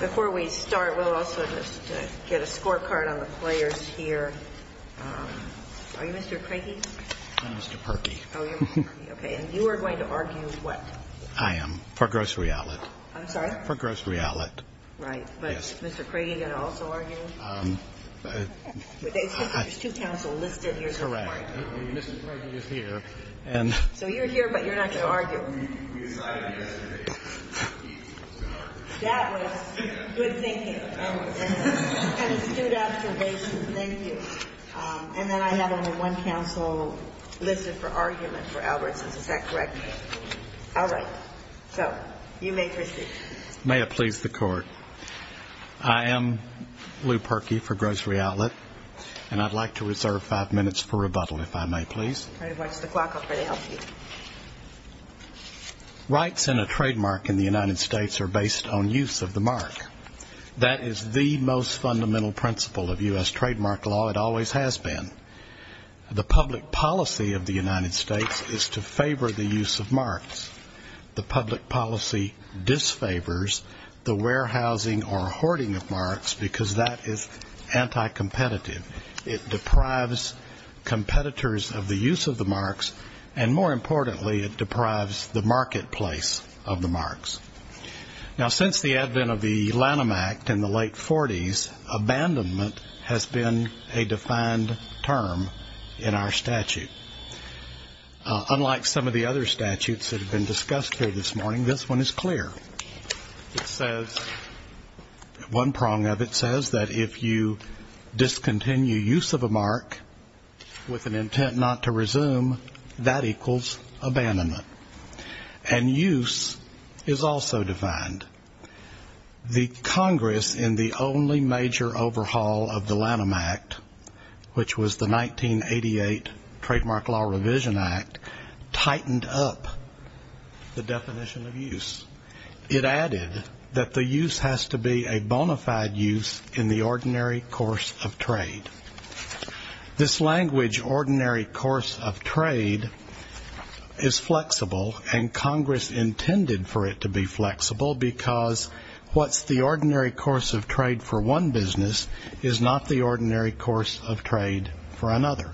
Before we start, we'll also just get a scorecard on the players here. Are you Mr. Craigy? I'm Mr. Parkey. Oh, you're Mr. Parkey. Okay. And you are going to argue what? I am, for Grocery Outlet. I'm sorry? For Grocery Outlet. Right. But is Mr. Craigy going to also argue? It says there's two counsel listed here somewhere. Correct. Mr. Craigy is here. So you're here, but you're not going to argue. We decided yesterday. That was good thinking. And astute observations. Thank you. And then I have only one counsel listed for argument for Albertson's. Is that correct? All right. So you may proceed. May it please the Court. I am Lou Parkey for Grocery Outlet, and I'd like to reserve five minutes for rebuttal, if I may, please. Try to watch the clock. I'll try to help you. Rights and a trademark in the United States are based on use of the mark. That is the most fundamental principle of U.S. trademark law. It always has been. The public policy of the United States is to favor the use of marks. The public policy disfavors the warehousing or hoarding of marks, because that is anti-competitive. It deprives competitors of the use of the marks, and more importantly, it deprives the marketplace of the marks. Now, since the advent of the Lanham Act in the late 40s, abandonment has been a defined term in our statute. Unlike some of the other statutes that have been discussed here this morning, this one is clear. It says, one prong of it says that if you discontinue use of a mark with an intent not to resume, that equals abandonment. And use is also defined. The Congress, in the only major overhaul of the Lanham Act, which was the 1988 Trademark Law Revision Act, tightened up the definition of use. It added that the use has to be a bona fide use in the ordinary course of trade. This language, ordinary course of trade, is flexible, and Congress intended for it to be flexible, because what's the ordinary course of trade for one business is not the ordinary course of trade for another.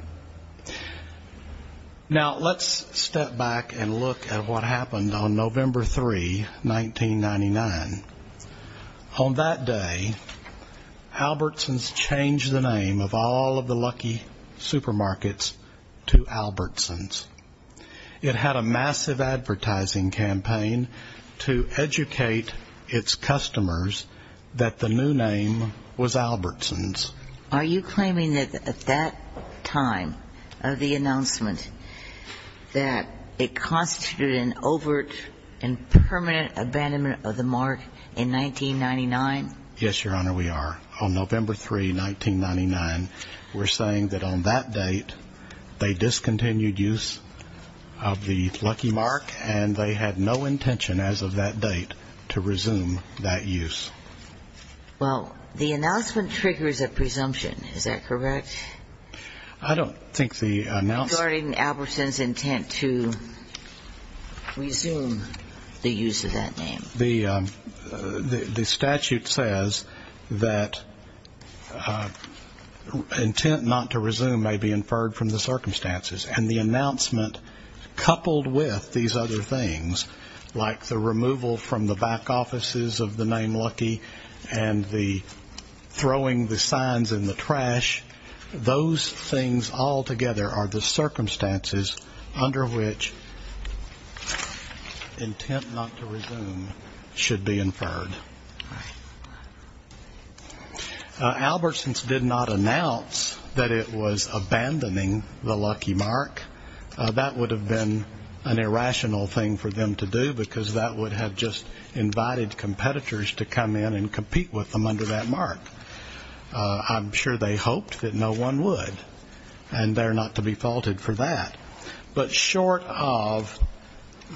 Now, let's step back and look at what happened on November 3, 1999. On that day, Albertsons changed the name of all of the Lucky Supermarkets to Albertsons. It had a massive advertising campaign to educate its customers that the new name was Albertsons. Are you claiming that at that time of the announcement that it constituted an overt and permanent abandonment of the mark in 1999? Yes, Your Honor, we are. On November 3, 1999, we're saying that on that date, they discontinued use of the Lucky Mark, and they had no intention as of that date to resume that use. Well, the announcement triggers a presumption, is that correct? I don't think the announcement ---- Regarding Albertsons' intent to resume the use of that name. The statute says that intent not to resume may be inferred from the circumstances, and the announcement coupled with these other things, like the removal from the back offices of the name Lucky and the throwing the signs in the trash, those things altogether are the circumstances under which intent not to resume should be inferred. All right. Albertsons did not announce that it was abandoning the Lucky Mark. That would have been an irrational thing for them to do, because that would have just invited competitors to come in and compete with them under that mark. I'm sure they hoped that no one would, and they're not to be faulted for that. But short of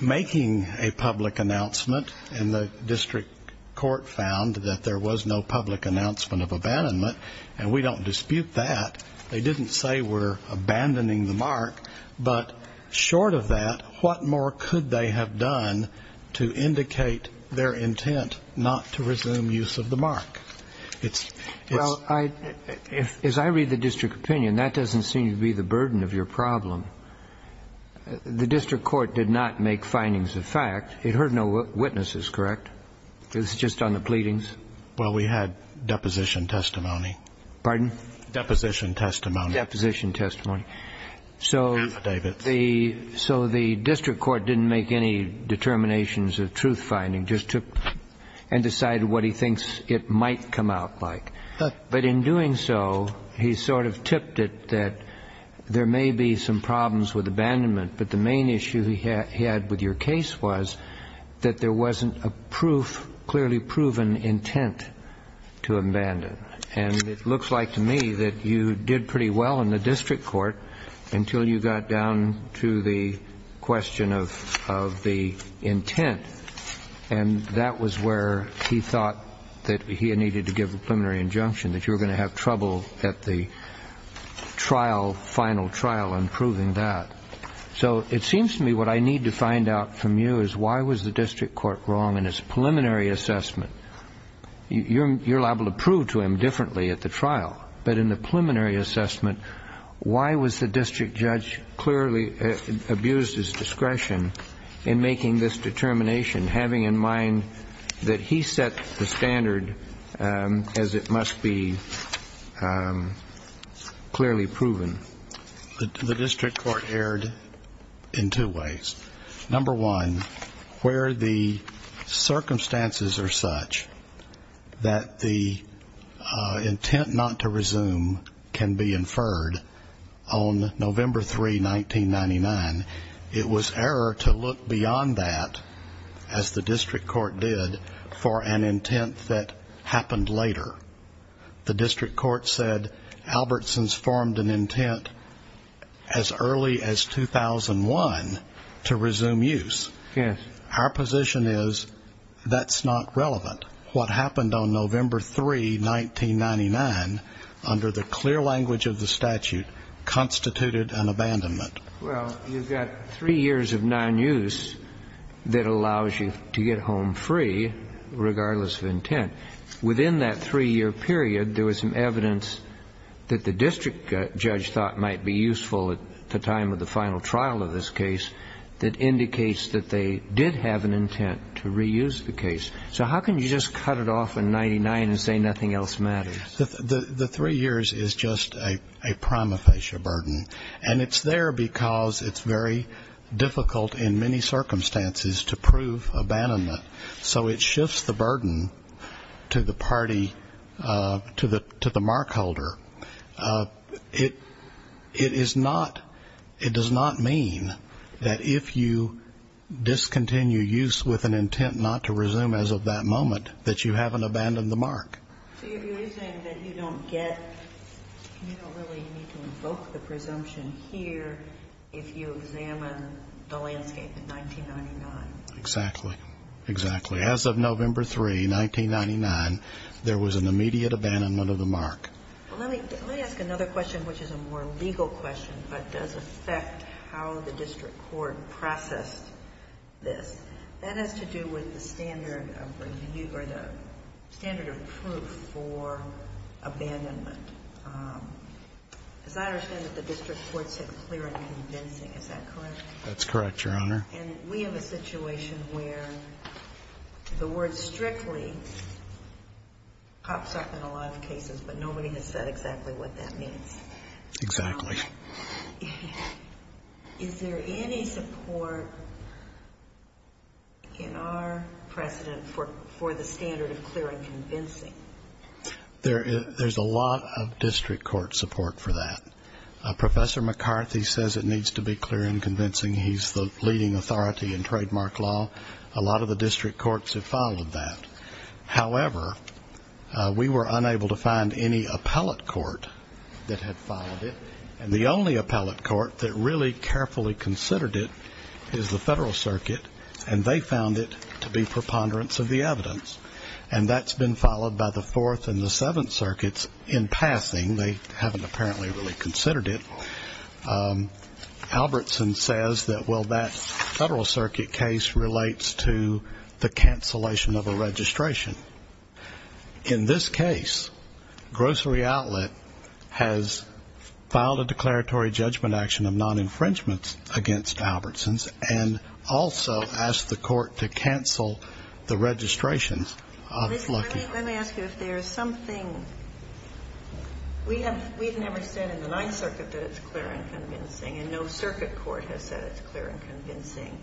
making a public announcement, and the district court found that there was no public announcement of abandonment, and we don't dispute that, they didn't say we're abandoning the mark, but short of that, what more could they have done to indicate their intent not to resume use of the mark? Well, as I read the district opinion, that doesn't seem to be the burden of your problem. The district court did not make findings of fact. It heard no witnesses, correct? It was just on the pleadings? Well, we had deposition testimony. Pardon? Deposition testimony. Deposition testimony. Affidavits. So the district court didn't make any determinations of truth finding, just took and decided what he thinks it might come out like. But in doing so, he sort of tipped it that there may be some problems with abandonment, but the main issue he had with your case was that there wasn't a proof, clearly proven intent to abandon. And it looks like to me that you did pretty well in the district court until you got down to the question of the intent, and that was where he thought that he needed to give a preliminary injunction, that you were going to have trouble at the trial, final trial, in proving that. So it seems to me what I need to find out from you is why was the district court wrong in its preliminary assessment? You're liable to prove to him differently at the trial, but in the preliminary assessment, why was the district judge clearly abused his discretion in making this determination, having in mind that he set the standard as it must be clearly proven? The district court erred in two ways. Number one, where the circumstances are such that the intent not to resume can be inferred on November 3, 1999, it was error to look beyond that, as the district court did, for an intent that happened later. The district court said Albertson's formed an intent as early as 2001 to resume use. Yes. Our position is that's not relevant. What happened on November 3, 1999, under the clear language of the statute, constituted an abandonment. Well, you've got three years of non-use that allows you to get home free, regardless of intent. Within that three-year period, there was some evidence that the district judge thought might be useful at the time of the final trial of this case that indicates that they did have an intent to reuse the case. So how can you just cut it off in 1999 and say nothing else matters? The three years is just a prima facie burden, and it's there because it's very difficult in many circumstances to prove abandonment. So it shifts the burden to the party, to the mark holder. It is not, it does not mean that if you discontinue use with an intent not to resume as of that moment, that you haven't abandoned the mark. So you're saying that you don't get, you don't really need to invoke the presumption here if you examine the landscape in 1999. Exactly. Exactly. As of November 3, 1999, there was an immediate abandonment of the mark. Well, let me ask another question, which is a more legal question, but does affect how the district court processed this. That has to do with the standard of review or the standard of proof for abandonment. As I understand it, the district court said clear and convincing. Is that correct? That's correct, Your Honor. And we have a situation where the word strictly pops up in a lot of cases, but nobody has said exactly what that means. Exactly. Is there any support in our precedent for the standard of clear and convincing? There's a lot of district court support for that. Professor McCarthy says it needs to be clear and convincing. He's the leading authority in trademark law. A lot of the district courts have followed that. However, we were unable to find any appellate court that had followed it, and the only appellate court that really carefully considered it is the Federal Circuit, and they found it to be preponderance of the evidence. And that's been followed by the Fourth and the Seventh Circuits in passing. They haven't apparently really considered it. Albertson says that, well, that Federal Circuit case relates to the cancellation of a registration. In this case, Grocery Outlet has filed a declaratory judgment action of non-infringement against Albertson's and also asked the court to cancel the registrations. Let me ask you if there is something. We have never said in the Ninth Circuit that it's clear and convincing, and no circuit court has said it's clear and convincing.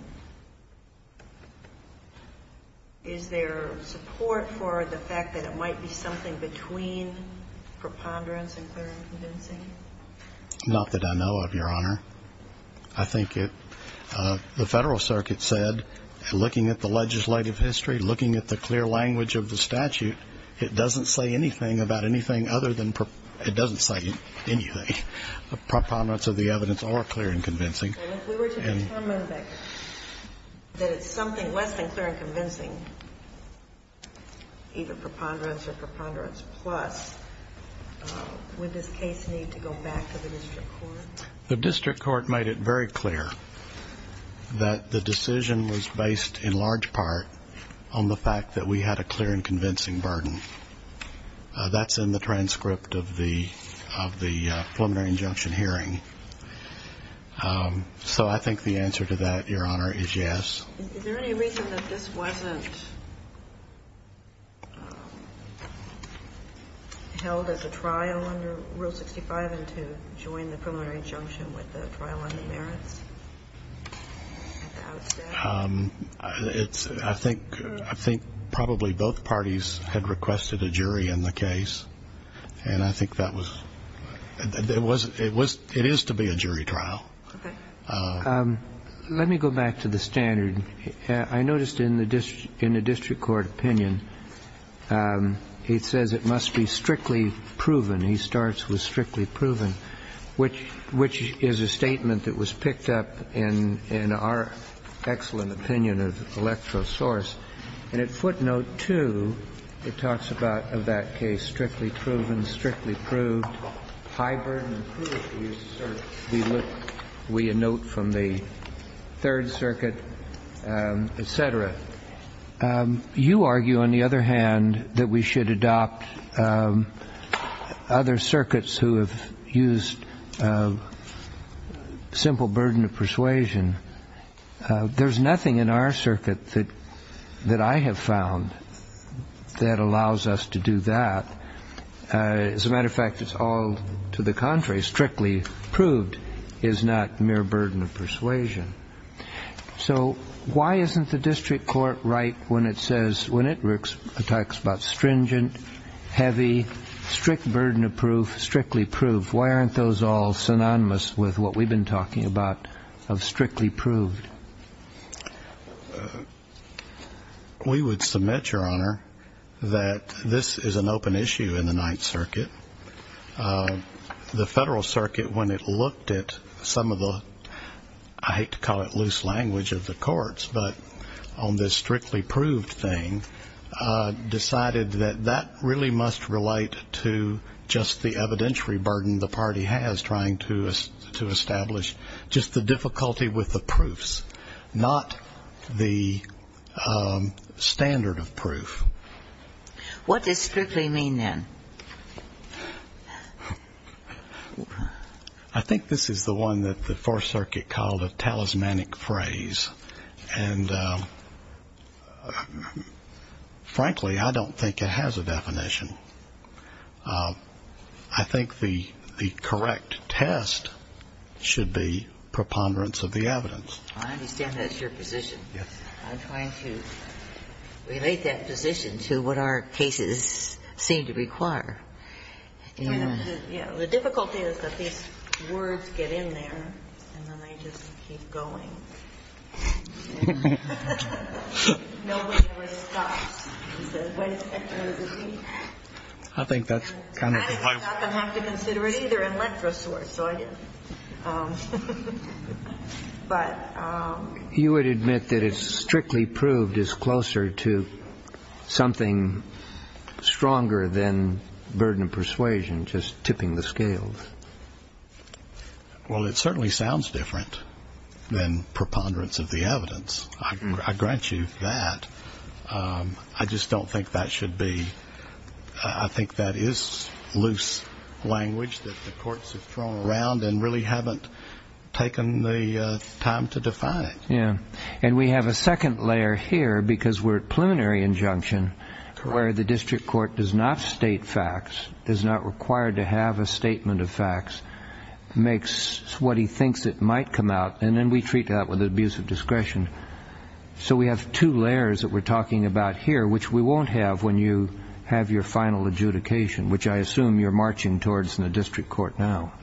Is there support for the fact that it might be something between preponderance and clear and convincing? Not that I know of, Your Honor. I think the Federal Circuit said, looking at the legislative history, looking at the clear language of the statute, it doesn't say anything about anything other than preponderance. It doesn't say anything. The preponderance of the evidence or clear and convincing. And if we were to determine that it's something less than clear and convincing, either preponderance or preponderance plus, would this case need to go back to the district court? The district court made it very clear that the decision was based in large part on the fact that we had a clear and convincing burden. That's in the transcript of the preliminary injunction hearing. So I think the answer to that, Your Honor, is yes. Is there any reason that this wasn't held as a trial under Rule 65 and to join the preliminary injunction with the trial on the merits? I think probably both parties had requested a jury in the case. And I think that was ñ it is to be a jury trial. Okay. Let me go back to the standard. I noticed in the district court opinion, it says it must be strictly proven. He starts with strictly proven, which is a statement that was picked up in our excellent opinion of electrosource. And at footnote 2, it talks about, of that case, strictly proven, strictly proved, high burden and prudent use of circuits. We note from the Third Circuit, et cetera. You argue, on the other hand, that we should adopt other circuits who have used simple burden of persuasion. There's nothing in our circuit that I have found that allows us to do that. As a matter of fact, it's all to the contrary. Strictly proved is not mere burden of persuasion. So why isn't the district court right when it says ñ when it talks about stringent, heavy, strict burden of proof, strictly proved? Why aren't those all synonymous with what we've been talking about of strictly proved? We would submit, Your Honor, that this is an open issue in the Ninth Circuit. The Federal Circuit, when it looked at some of the ñ I hate to call it loose language of the courts, but on this strictly proved thing, decided that that really must relate to just the evidentiary burden the party has, trying to establish just the difficulty with the proofs, not the standard of proof. What does strictly mean, then? I think this is the one that the Fourth Circuit called a talismanic phrase. And frankly, I don't think it has a definition. I think the correct test should be preponderance of the evidence. I understand that's your position. Yes. I'm trying to relate that position to what our cases seem to require. The difficulty is that these words get in there, and then they just keep going. And nobody ever stops and says, what does it mean? I think that's kind of ñ And I didn't have to consider it either in Lent for a source, so I didn't. But ñ You would admit that strictly proved is closer to something stronger than burden of persuasion, just tipping the scales. Well, it certainly sounds different than preponderance of the evidence. I grant you that. I just don't think that should be ñ I think that is loose language that the courts have thrown around and really haven't taken the time to define it. And we have a second layer here because we're at preliminary injunction where the district court does not state facts, is not required to have a statement of facts, makes what he thinks it might come out, and then we treat that with abuse of discretion. So we have two layers that we're talking about here, which we won't have when you have your final adjudication, which I assume you're marching towards in the district court now.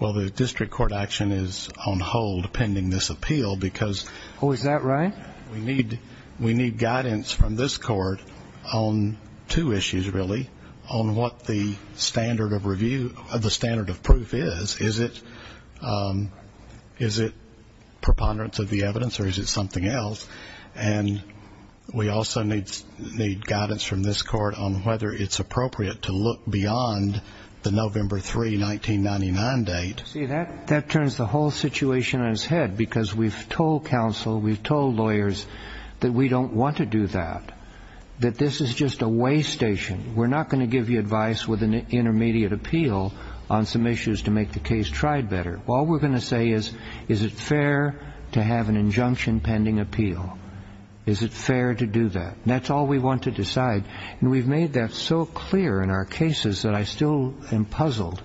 Well, the district court action is on hold pending this appeal because ñ Oh, is that right? We need guidance from this court on two issues, really, on what the standard of review ñ the standard of proof is. Is it preponderance of the evidence or is it something else? And we also need guidance from this court on whether it's appropriate to look beyond the November 3, 1999 date. See, that turns the whole situation on its head because we've told counsel, we've told lawyers that we don't want to do that, that this is just a way station. We're not going to give you advice with an intermediate appeal on some issues to make the case tried better. All we're going to say is, is it fair to have an injunction pending appeal? Is it fair to do that? That's all we want to decide. And we've made that so clear in our cases that I still am puzzled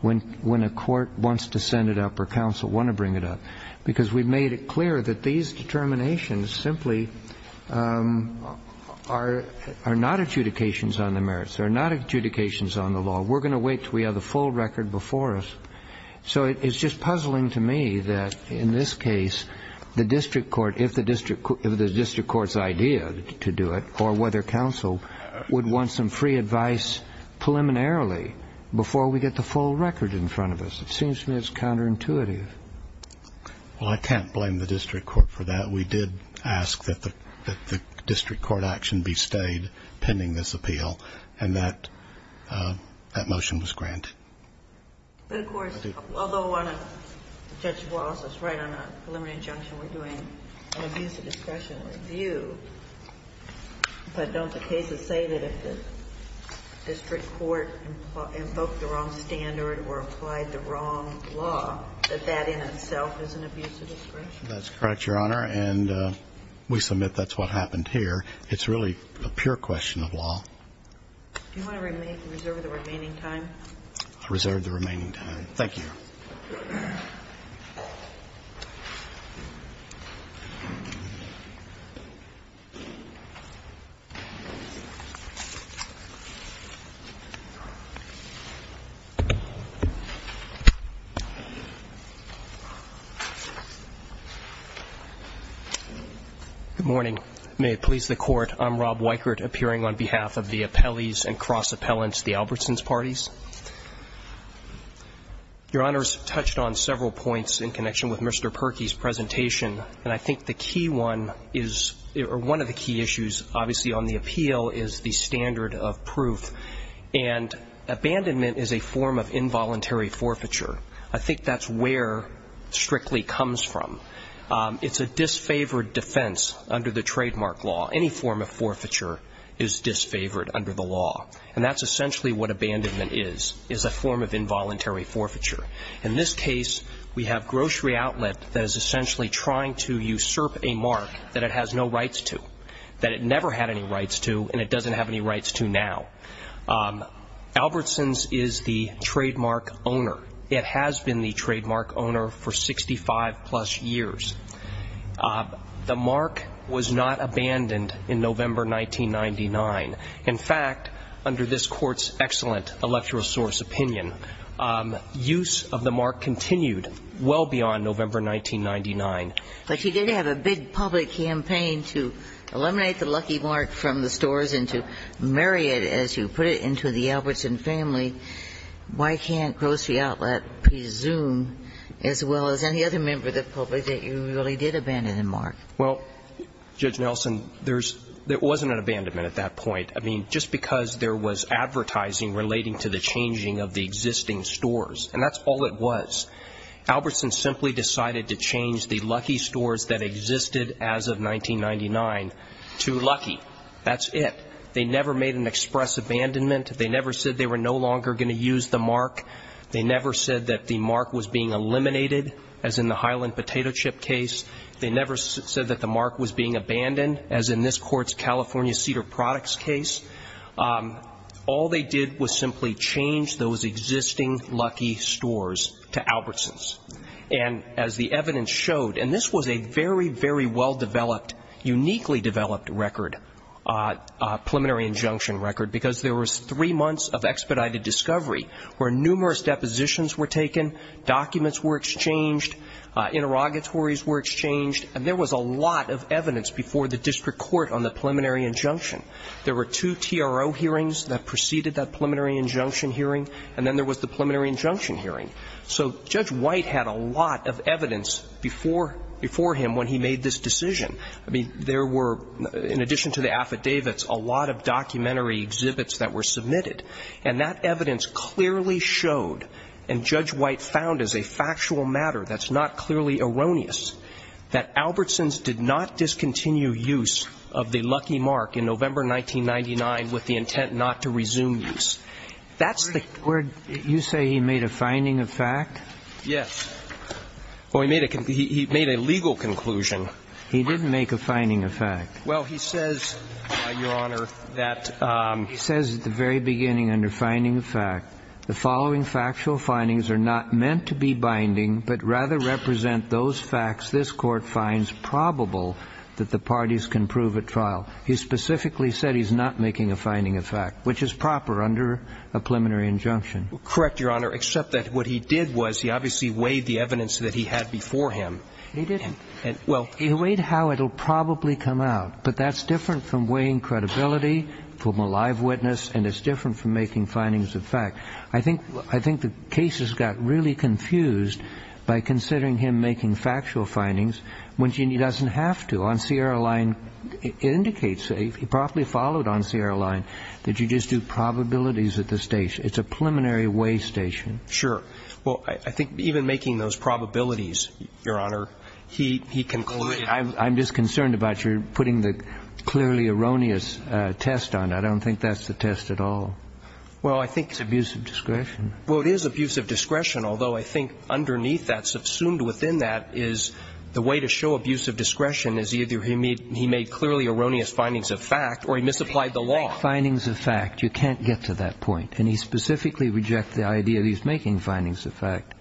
when a court wants to send it up or counsel want to bring it up because we've made it clear that these determinations simply are not adjudications on the merits, they're not adjudications on the law. We're going to wait until we have the full record before us. So it's just puzzling to me that, in this case, the district court, if the district court's idea to do it or whether counsel would want some free advice preliminarily before we get the full record in front of us. It seems to me it's counterintuitive. Well, I can't blame the district court for that. We did ask that the district court action be stayed pending this appeal, and that motion was granted. But, of course, although Judge Wallace is right on a preliminary injunction, we're doing an abuse of discretion review. But don't the cases say that if the district court invoked the wrong standard or applied the wrong law, that that in itself is an abuse of discretion? That's correct, Your Honor. And we submit that's what happened here. It's really a pure question of law. Do you want to reserve the remaining time? Reserve the remaining time. Thank you. Good morning. May it please the Court. I'm Rob Weikert, appearing on behalf of the Appellees and Cross Appellants, the Albertsons Parties. Your Honors touched on several points in connection with Mr. Perkey's presentation, and I think the key one is or one of the key issues, obviously, on the appeal is the standard of proof. And abandonment is a form of involuntary forfeiture. I think that's where Strictly comes from. It's a disfavored defense under the trademark law. Any form of forfeiture is disfavored under the law. And that's essentially what abandonment is, is a form of involuntary forfeiture. In this case, we have Grocery Outlet that is essentially trying to usurp a mark that it has no rights to, that it never had any rights to, and it doesn't have any rights to now. Albertsons is the trademark owner. It has been the trademark owner for 65-plus years. The mark was not abandoned in November 1999. In fact, under this Court's excellent electoral source opinion, use of the mark continued well beyond November 1999. But you did have a big public campaign to eliminate the lucky mark from the stores and to marry it, as you put it, into the Albertsons family. Why can't Grocery Outlet presume, as well as any other member of the public, that you really did abandon the mark? Well, Judge Nelson, there wasn't an abandonment at that point. I mean, just because there was advertising relating to the changing of the existing stores. And that's all it was. Albertsons simply decided to change the Lucky stores that existed as of 1999 to Lucky. That's it. They never made an express abandonment. They never said they were no longer going to use the mark. They never said that the mark was being eliminated, as in the Highland Potato Chip case. They never said that the mark was being abandoned, as in this Court's California Cedar Products case. All they did was simply change those existing Lucky stores to Albertsons. And as the evidence showed, and this was a very, very well-developed, uniquely developed record, preliminary injunction record, because there was three months of expedited discovery where numerous depositions were taken, documents were exchanged, interrogatories were exchanged, and there was a lot of evidence before the district court on the preliminary injunction. There were two TRO hearings that preceded that preliminary injunction hearing, and then there was the preliminary injunction hearing. So Judge White had a lot of evidence before him when he made this decision. I mean, there were, in addition to the affidavits, a lot of documentary exhibits that were submitted. And that evidence clearly showed, and Judge White found as a factual matter that's not clearly erroneous, that Albertsons did not discontinue use of the Lucky mark in November 1999 with the intent not to resume use. That's the word. You say he made a finding of fact? Yes. Well, he made a legal conclusion. He didn't make a finding of fact. Well, he says, Your Honor, that... He says at the very beginning, under finding of fact, the following factual findings are not meant to be binding but rather represent those facts this Court finds probable that the parties can prove at trial. He specifically said he's not making a finding of fact, which is proper under a preliminary injunction. Correct, Your Honor, except that what he did was he obviously weighed the evidence that he had before him. He didn't. Well... He weighed how it will probably come out. But that's different from weighing credibility from a live witness, and it's different from making findings of fact. I think the cases got really confused by considering him making factual findings when he doesn't have to. Well, on Sierra Line, it indicates that, if he properly followed on Sierra Line, that you just do probabilities at the station. It's a preliminary weigh station. Sure. Well, I think even making those probabilities, Your Honor, he concluded... I'm just concerned about your putting the clearly erroneous test on. I don't think that's the test at all. Well, I think it's abusive discretion. Well, it is abusive discretion, although I think underneath that, subsumed within that, is the way to show abusive discretion is either he made clearly erroneous findings of fact or he misapplied the law. Making findings of fact, you can't get to that point. And he specifically rejects the idea that he's making findings of fact.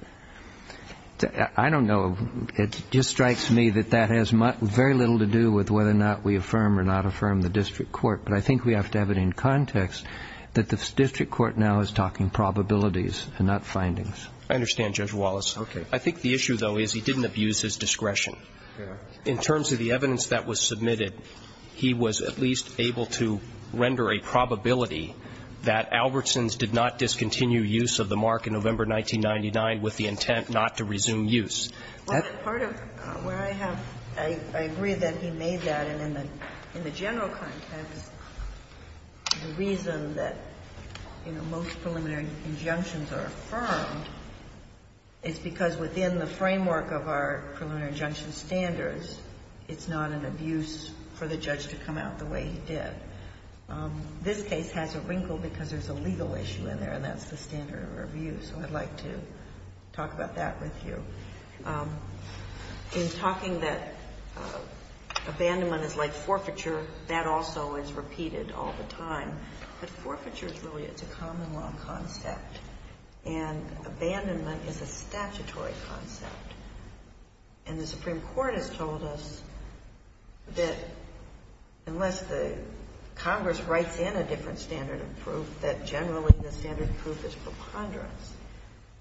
I don't know. It just strikes me that that has very little to do with whether or not we affirm or not affirm the district court. But I think we have to have it in context that the district court now is talking probabilities and not findings. I understand, Judge Wallace. Okay. I think the issue, though, is he didn't abuse his discretion. In terms of the evidence that was submitted, he was at least able to render a probability that Albertsons did not discontinue use of the mark in November 1999 with the intent not to resume use. Well, part of where I have to agree that he made that in the general context, the reason that, you know, most preliminary injunctions are affirmed, is because within the framework of our preliminary injunction standards, it's not an abuse for the judge to come out the way he did. This case has a wrinkle because there's a legal issue in there, and that's the standard of abuse. So I'd like to talk about that with you. In talking that abandonment is like forfeiture, that also is repeated all the time. But forfeiture is really a common law concept, and abandonment is a statutory concept. And the Supreme Court has told us that unless the Congress writes in a different standard of proof, that generally the standard of proof is preponderance.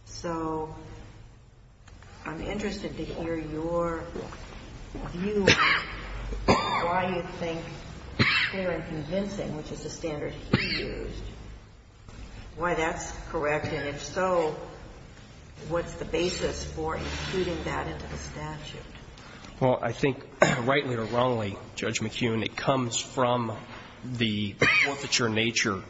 So I'm interested to hear your view on why you think it's clear and convincing, which is the standard he used, why that's correct, and if so, what's the basis for including that into the statute? Well, I think, rightly or wrongly, Judge McKeown, it comes from the forfeiture nature.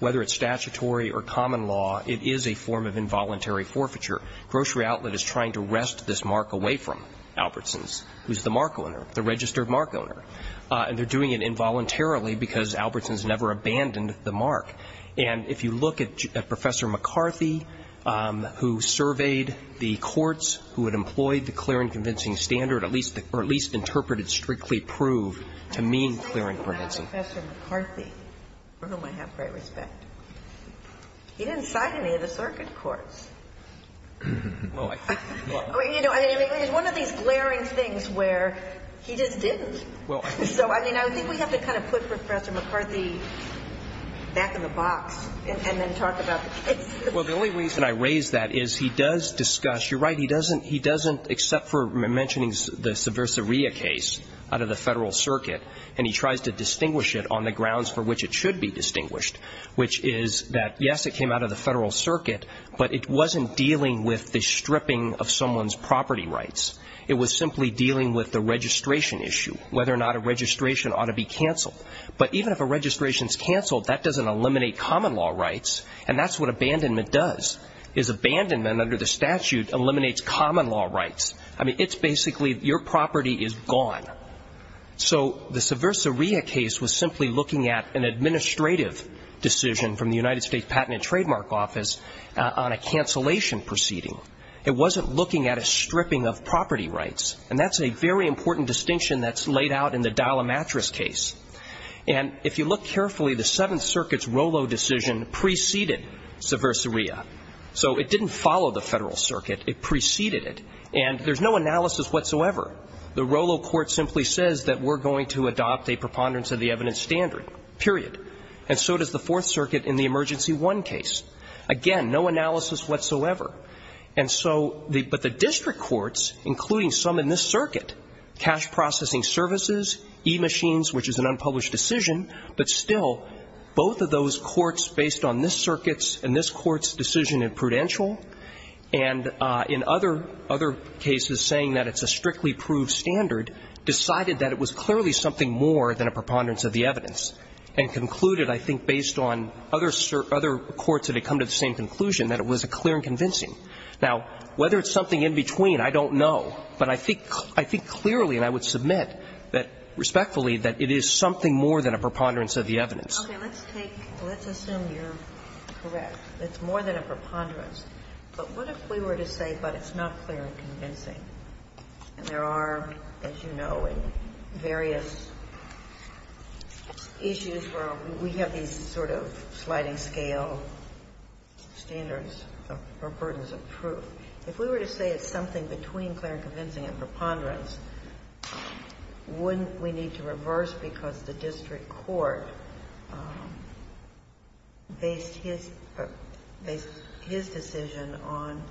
Whether it's statutory or common law, it is a form of involuntary forfeiture. Grocery Outlet is trying to wrest this mark away from Albertsons, who's the mark owner, the registered mark owner. And they're doing it involuntarily because Albertsons never abandoned the mark. And if you look at Professor McCarthy, who surveyed the courts, who had employed the clear and convincing standard, at least interpreted strictly proved to mean clear and convincing. Well, Professor McCarthy, for whom I have great respect, he didn't cite any of the circuit courts. Well, I don't know. I mean, it's one of these glaring things where he just didn't. So, I mean, I think we have to kind of put Professor McCarthy back in the box and then talk about the case. Well, the only reason I raise that is he does discuss you're right, he doesn't except for mentioning the subversaria case out of the Federal Circuit, and he tries to distinguish it on the grounds for which it should be distinguished, which is that, yes, it came out of the Federal Circuit, but it wasn't dealing with the stripping of someone's property rights. It was simply dealing with the registration issue, whether or not a registration ought to be canceled. But even if a registration's canceled, that doesn't eliminate common law rights, and that's what abandonment does, is abandonment under the statute eliminates common law rights. I mean, it's basically your property is gone. So the subversaria case was simply looking at an administrative decision from the United States Patent and Trademark Office on a cancellation proceeding. It wasn't looking at a stripping of property rights, and that's a very important distinction that's laid out in the dial-a-mattress case. And if you look carefully, the Seventh Circuit's Rolo decision preceded subversaria. So it didn't follow the Federal Circuit, it preceded it. And there's no analysis whatsoever. The Rolo court simply says that we're going to adopt a preponderance of the evidence standard, period. And so does the Fourth Circuit in the Emergency I case. Again, no analysis whatsoever. And so the — but the district courts, including some in this circuit, cash processing services, e-machines, which is an unpublished decision, but still, both of those courts, based on this circuit's and this court's decision in Prudential, and in other cases saying that it's a strictly proved standard, decided that it was clearly something more than a preponderance of the evidence, and concluded, I think, based on other courts that had come to the same conclusion, that it was a clear and convincing. Now, whether it's something in between, I don't know. But I think clearly, and I would submit that, respectfully, that it is something more than a preponderance of the evidence. Okay. Let's take — let's assume you're correct. It's more than a preponderance. But what if we were to say, but it's not clear and convincing? And there are, as you know, in various issues where we have these sort of sliding scale standards or burdens of proof. If we were to say it's something between clear and convincing and preponderance, wouldn't we need to reverse? Because the district court based his — based his decision on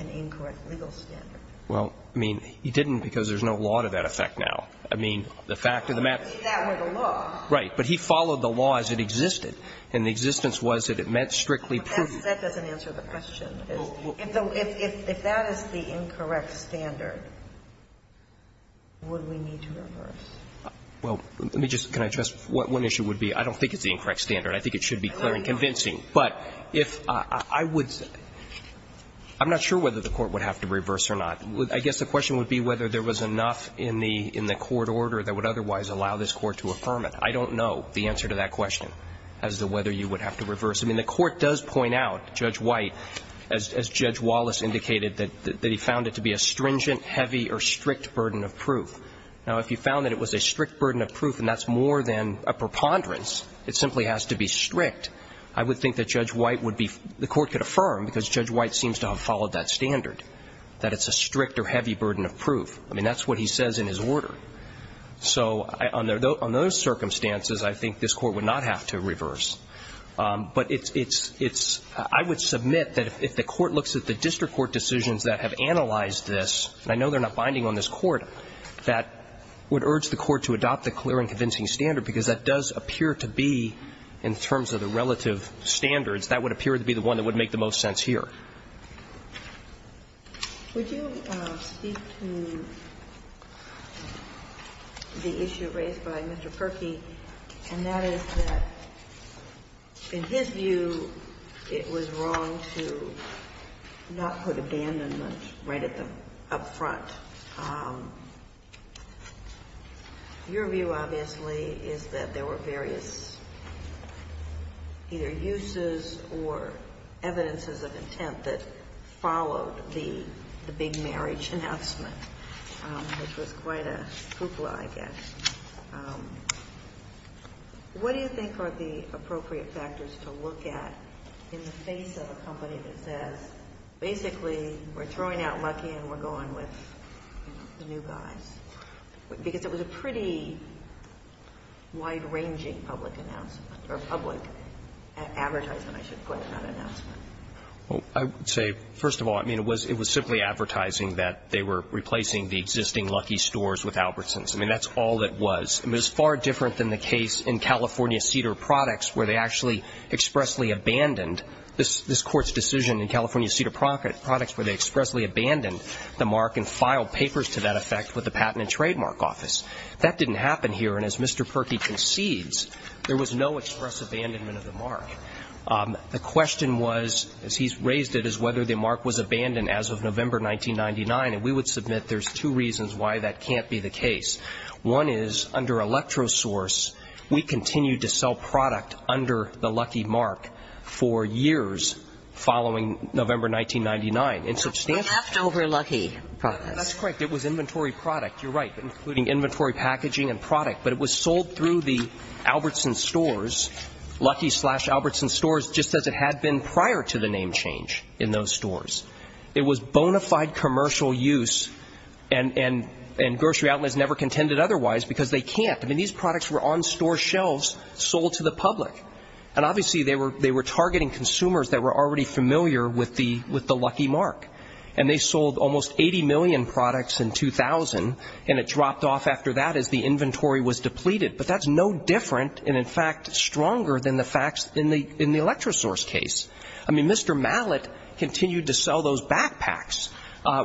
an incorrect legal standard. Well, I mean, he didn't because there's no law to that effect now. I mean, the fact of the matter is — If that were the law. Right. But he followed the law as it existed. And the existence was that it meant strictly proven. That doesn't answer the question. If that is the incorrect standard, would we need to reverse? Well, let me just — can I address what one issue would be? I don't think it's the incorrect standard. I think it should be clear and convincing. But if I would — I'm not sure whether the Court would have to reverse or not. I guess the question would be whether there was enough in the court order that would otherwise allow this Court to affirm it. I don't know the answer to that question as to whether you would have to reverse. I mean, the Court does point out, Judge White, as Judge Wallace indicated, that he found it to be a stringent, heavy or strict burden of proof. Now, if you found that it was a strict burden of proof and that's more than a preponderance, it simply has to be strict, I would think that Judge White would be — the Court could affirm, because Judge White seems to have followed that standard, that it's a strict or heavy burden of proof. I mean, that's what he says in his order. So on those circumstances, I think this Court would not have to reverse. But it's — it's — I would submit that if the Court looks at the district court decisions that have analyzed this, and I know they're not binding on this Court, that would urge the Court to adopt a clear and convincing standard, because that does appear to be, in terms of the relative standards, that would appear to be the one that would make the most sense here. Would you speak to the issue raised by Mr. Perkey, and that is that, in his view, it was wrong to not put abandonment right at the — up front. Your view, obviously, is that there were various either uses or evidences of intent that followed the big marriage announcement, which was quite a hoopla, I guess. What do you think are the appropriate factors to look at in the face of a company that says, basically, we're throwing out Lucky and we're going with the new guys? Because it was a pretty wide-ranging public announcement, or public advertisement, I should put, not announcement. Well, I would say, first of all, I mean, it was simply advertising that they were replacing the existing Lucky stores with Albertsons. I mean, that's all it was. It was far different than the case in California Cedar Products, where they actually expressly abandoned this Court's decision in California Cedar Products, where they expressly abandoned the mark and filed papers to that effect with the Patent and Trademark Office. That didn't happen here. And as Mr. Perkey concedes, there was no express abandonment of the mark. The question was, as he's raised it, is whether the mark was abandoned as of November 1999. And we would submit there's two reasons why that can't be the case. One is, under Electrosource, we continued to sell product under the Lucky mark for years following November 1999. And substantially. Leftover Lucky products. That's correct. It was inventory product. You're right, including inventory packaging and product. But it was sold through the Albertsons stores, Lucky slash Albertsons stores, just as it had been prior to the name change in those stores. It was bona fide commercial use, and grocery outlets never contended otherwise, because they can't. I mean, these products were on store shelves sold to the public. And obviously they were targeting consumers that were already familiar with the Lucky mark. And they sold almost 80 million products in 2000, and it dropped off after that as the inventory was depleted. But that's no different and, in fact, stronger than the facts in the Electrosource case. I mean, Mr. Mallett continued to sell those backpacks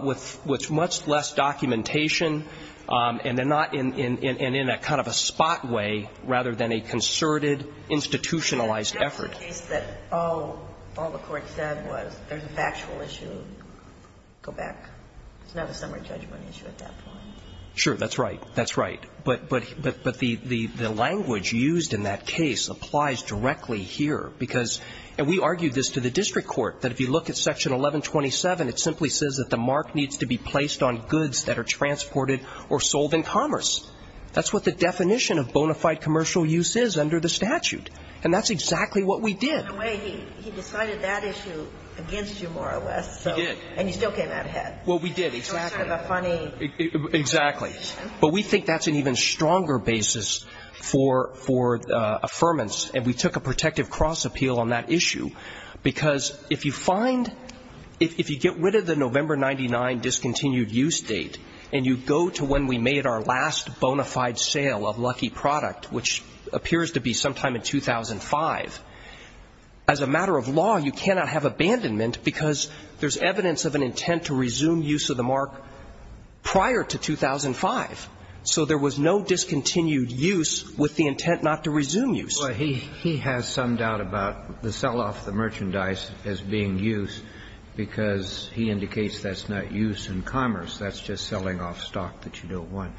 with much less documentation and then not in a kind of a spot way rather than a concerted, institutionalized effort. That's the case that all the court said was there's a factual issue. Go back. It's not a summary judgment issue at that point. That's right. But the language used in that case applies directly here, because, and we argued this to the district court, that if you look at Section 1127, it simply says that the mark needs to be placed on goods that are transported or sold in commerce. That's what the definition of bona fide commercial use is under the statute. And that's exactly what we did. In a way, he decided that issue against you, more or less. He did. And you still came out ahead. Well, we did. Exactly. But we think that's an even stronger basis for affirmance, and we took a protective cross appeal on that issue, because if you find, if you get rid of the November 99 discontinued use date and you go to when we made our last bona fide sale of Lucky Product, which appears to be sometime in 2005, as a matter of law, you cannot have prior to 2005. So there was no discontinued use with the intent not to resume use. Well, he has some doubt about the sell-off of the merchandise as being use, because he indicates that's not use in commerce. That's just selling off stock that you don't want.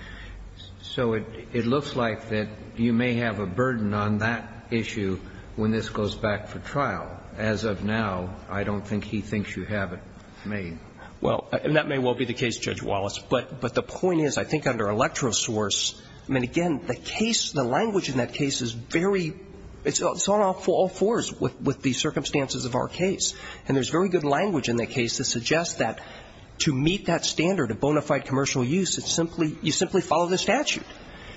So it looks like that you may have a burden on that issue when this goes back for trial. As of now, I don't think he thinks you have it made. Well, and that may well be the case, Judge Wallace. But the point is, I think under electrosource, I mean, again, the case, the language in that case is very, it's on all fours with the circumstances of our case. And there's very good language in that case that suggests that to meet that standard of bona fide commercial use, it's simply, you simply follow the statute.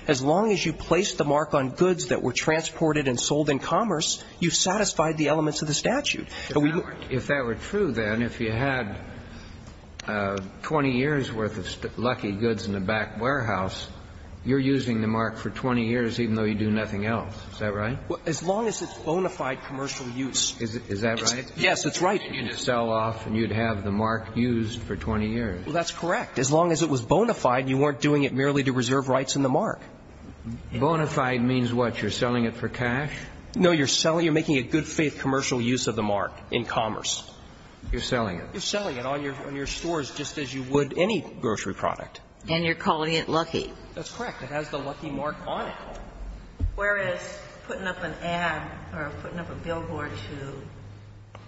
As long as you place the mark on goods that were transported and sold in commerce, you've satisfied the elements of the statute. If that were true, then, if you had 20 years' worth of lucky goods in a back warehouse, you're using the mark for 20 years even though you do nothing else. Is that right? As long as it's bona fide commercial use. Is that right? Yes, that's right. And you'd sell off and you'd have the mark used for 20 years. Well, that's correct. As long as it was bona fide, you weren't doing it merely to reserve rights in the Bona fide means what? You're selling it for cash? No, you're selling, you're making a good faith commercial use of the mark in commerce. You're selling it. You're selling it on your stores just as you would any grocery product. And you're calling it lucky. That's correct. It has the lucky mark on it. Whereas putting up an ad or putting up a billboard to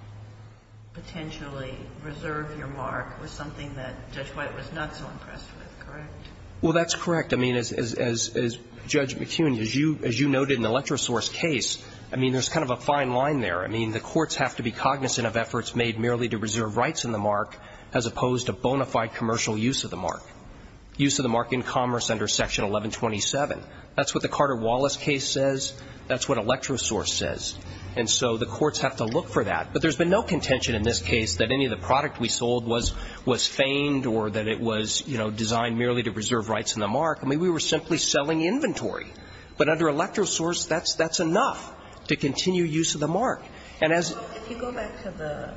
potentially reserve your mark was something that Judge White was not so impressed with, correct? Well, that's correct. I mean, as Judge McKeown, as you noted in the electrosource case, I mean, there's kind of a fine line there. I mean, the courts have to be cognizant of efforts made merely to reserve rights in the mark as opposed to bona fide commercial use of the mark, use of the mark in commerce under Section 1127. That's what the Carter-Wallace case says. That's what electrosource says. And so the courts have to look for that. But there's been no contention in this case that any of the product we sold was feigned or that it was, you know, designed merely to reserve rights in the mark. I mean, we were simply selling inventory. But under electrosource, that's enough to continue use of the mark. And as you go back to the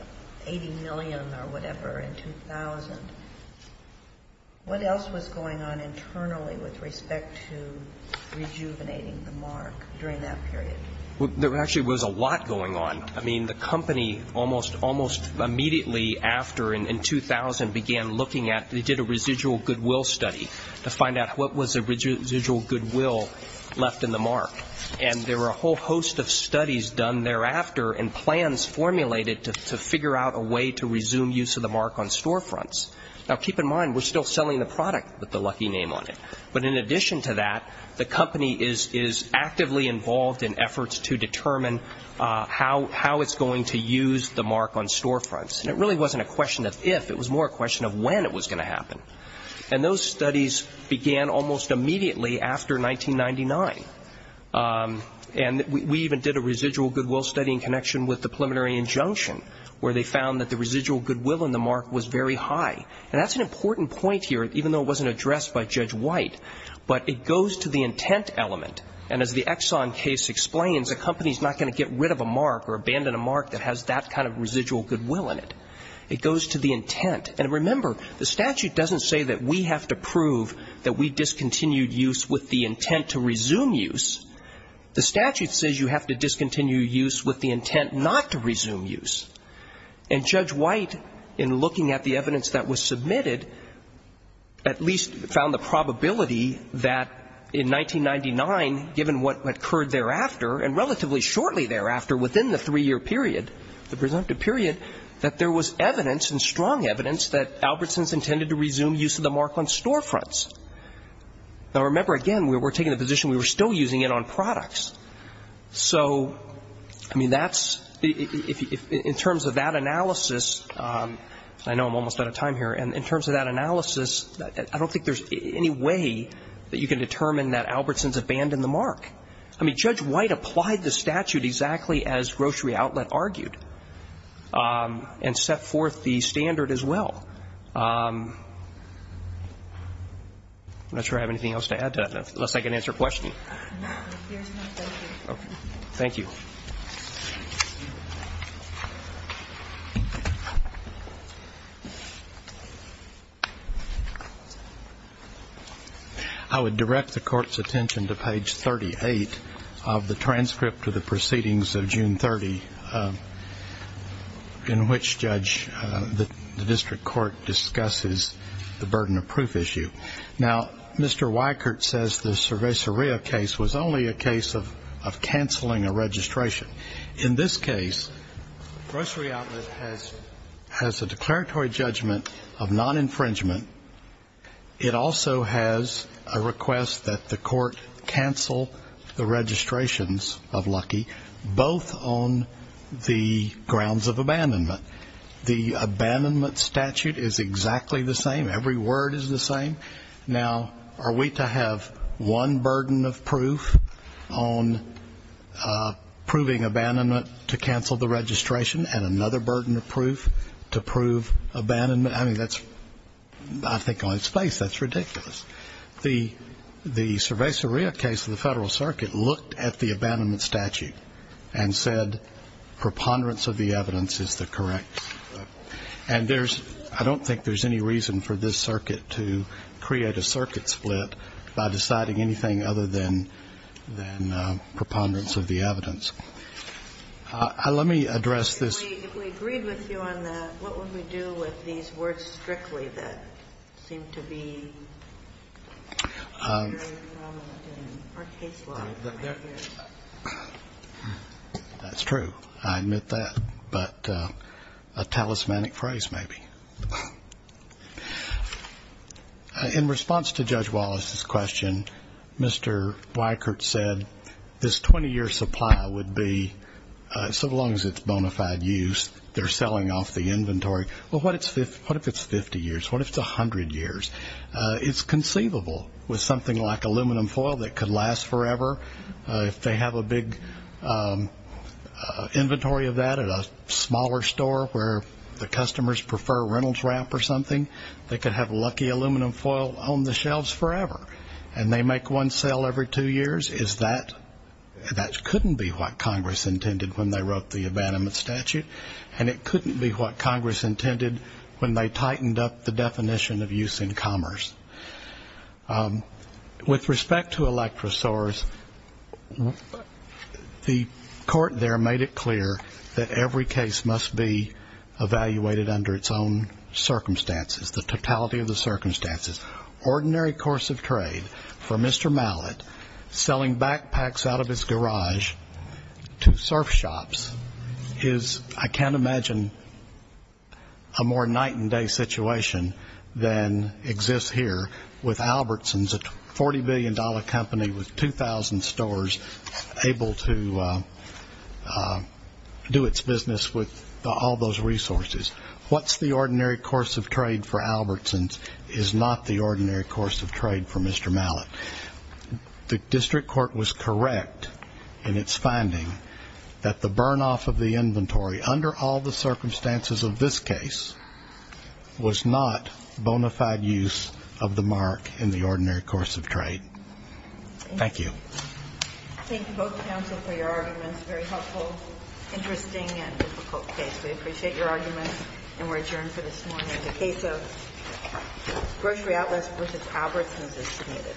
$80 million or whatever in 2000, what else was going on internally with respect to rejuvenating the mark during that period? Well, there actually was a lot going on. I mean, the company almost immediately after in 2000 began looking at they did a goodwill left in the mark, and there were a whole host of studies done thereafter and plans formulated to figure out a way to resume use of the mark on storefronts. Now, keep in mind, we're still selling the product with the lucky name on it. But in addition to that, the company is actively involved in efforts to determine how it's going to use the mark on storefronts. And it really wasn't a question of if, it was more a question of when it was going to happen. And those studies began almost immediately after 1999. And we even did a residual goodwill study in connection with the preliminary injunction, where they found that the residual goodwill in the mark was very high. And that's an important point here, even though it wasn't addressed by Judge White. But it goes to the intent element. And as the Exxon case explains, a company is not going to get rid of a mark or abandon a mark that has that kind of residual goodwill in it. It goes to the intent. And remember, the statute doesn't say that we have to prove that we discontinued use with the intent to resume use. The statute says you have to discontinue use with the intent not to resume use. And Judge White, in looking at the evidence that was submitted, at least found the probability that in 1999, given what occurred thereafter, and relatively shortly thereafter within the three-year period, the presumptive period, that there was evidence and strong evidence that Albertson's intended to resume use of the mark on storefronts. Now, remember, again, we're taking the position we were still using it on products. So, I mean, that's the ‑‑ in terms of that analysis, I know I'm almost out of time here, and in terms of that analysis, I don't think there's any way that you can determine that Albertson's abandoned the mark. I mean, Judge White applied the statute exactly as Grocery Outlet argued. And set forth the standard as well. I'm not sure I have anything else to add to that, unless I can answer a question. Thank you. I would direct the Court's attention to page 38 of the transcript of the proceedings of June 30, in which, Judge, the district court discusses the burden of proof issue. Now, Mr. Weikert says the Cerveceria case was only a case of canceling a registration. In this case, Grocery Outlet has a declaratory judgment of non-infringement. It also has a request that the court cancel the registrations of Lucky, both on the grounds of abandonment. The abandonment statute is exactly the same. Every word is the same. Now, are we to have one burden of proof on proving abandonment to cancel the registration, and another burden of proof to prove abandonment? I mean, that's, I think, on its face, that's ridiculous. The Cerveceria case of the Federal Circuit looked at the abandonment statute and said preponderance of the evidence is the correct. And there's – I don't think there's any reason for this circuit to create a circuit split by deciding anything other than preponderance of the evidence. Let me address this. If we agreed with you on that, what would we do with these words, strictly, that seem to be very prominent in our case law? That's true. I admit that. But a talismanic phrase, maybe. In response to Judge Wallace's question, Mr. Weikert said this 20-year supply would be, so long as it's bona fide use, they're selling off the inventory. Well, what if it's 50 years? What if it's 100 years? It's conceivable with something like aluminum foil that could last forever. If they have a big inventory of that at a smaller store where the customers prefer Reynolds Wrap or something, they could have lucky aluminum foil on the shelves forever. And they make one sale every two years. That couldn't be what Congress intended when they wrote the abandonment statute, and it couldn't be what Congress intended when they tightened up the definition of use in commerce. With respect to electrosaurs, the court there made it clear that every case must be evaluated under its own circumstances, the totality of the circumstances. Ordinary course of trade for Mr. Mallett, selling backpacks out of his garage to surf shops, is I can't imagine a more night and day situation than exists here with Albertsons, a $40 billion company with 2,000 stores able to do its business with all those resources. What's the ordinary course of trade for Albertsons is not the ordinary course of trade for Mr. Mallett. The district court was correct in its finding that the burn off of the inventory under all the circumstances of this case was not bona fide use of the mark in the ordinary course of trade. Thank you. Thank you both counsel for your arguments. Very helpful, interesting and difficult case. We appreciate your arguments and we're adjourned for this morning. The case of Grocery Atlas v. Albertsons is submitted.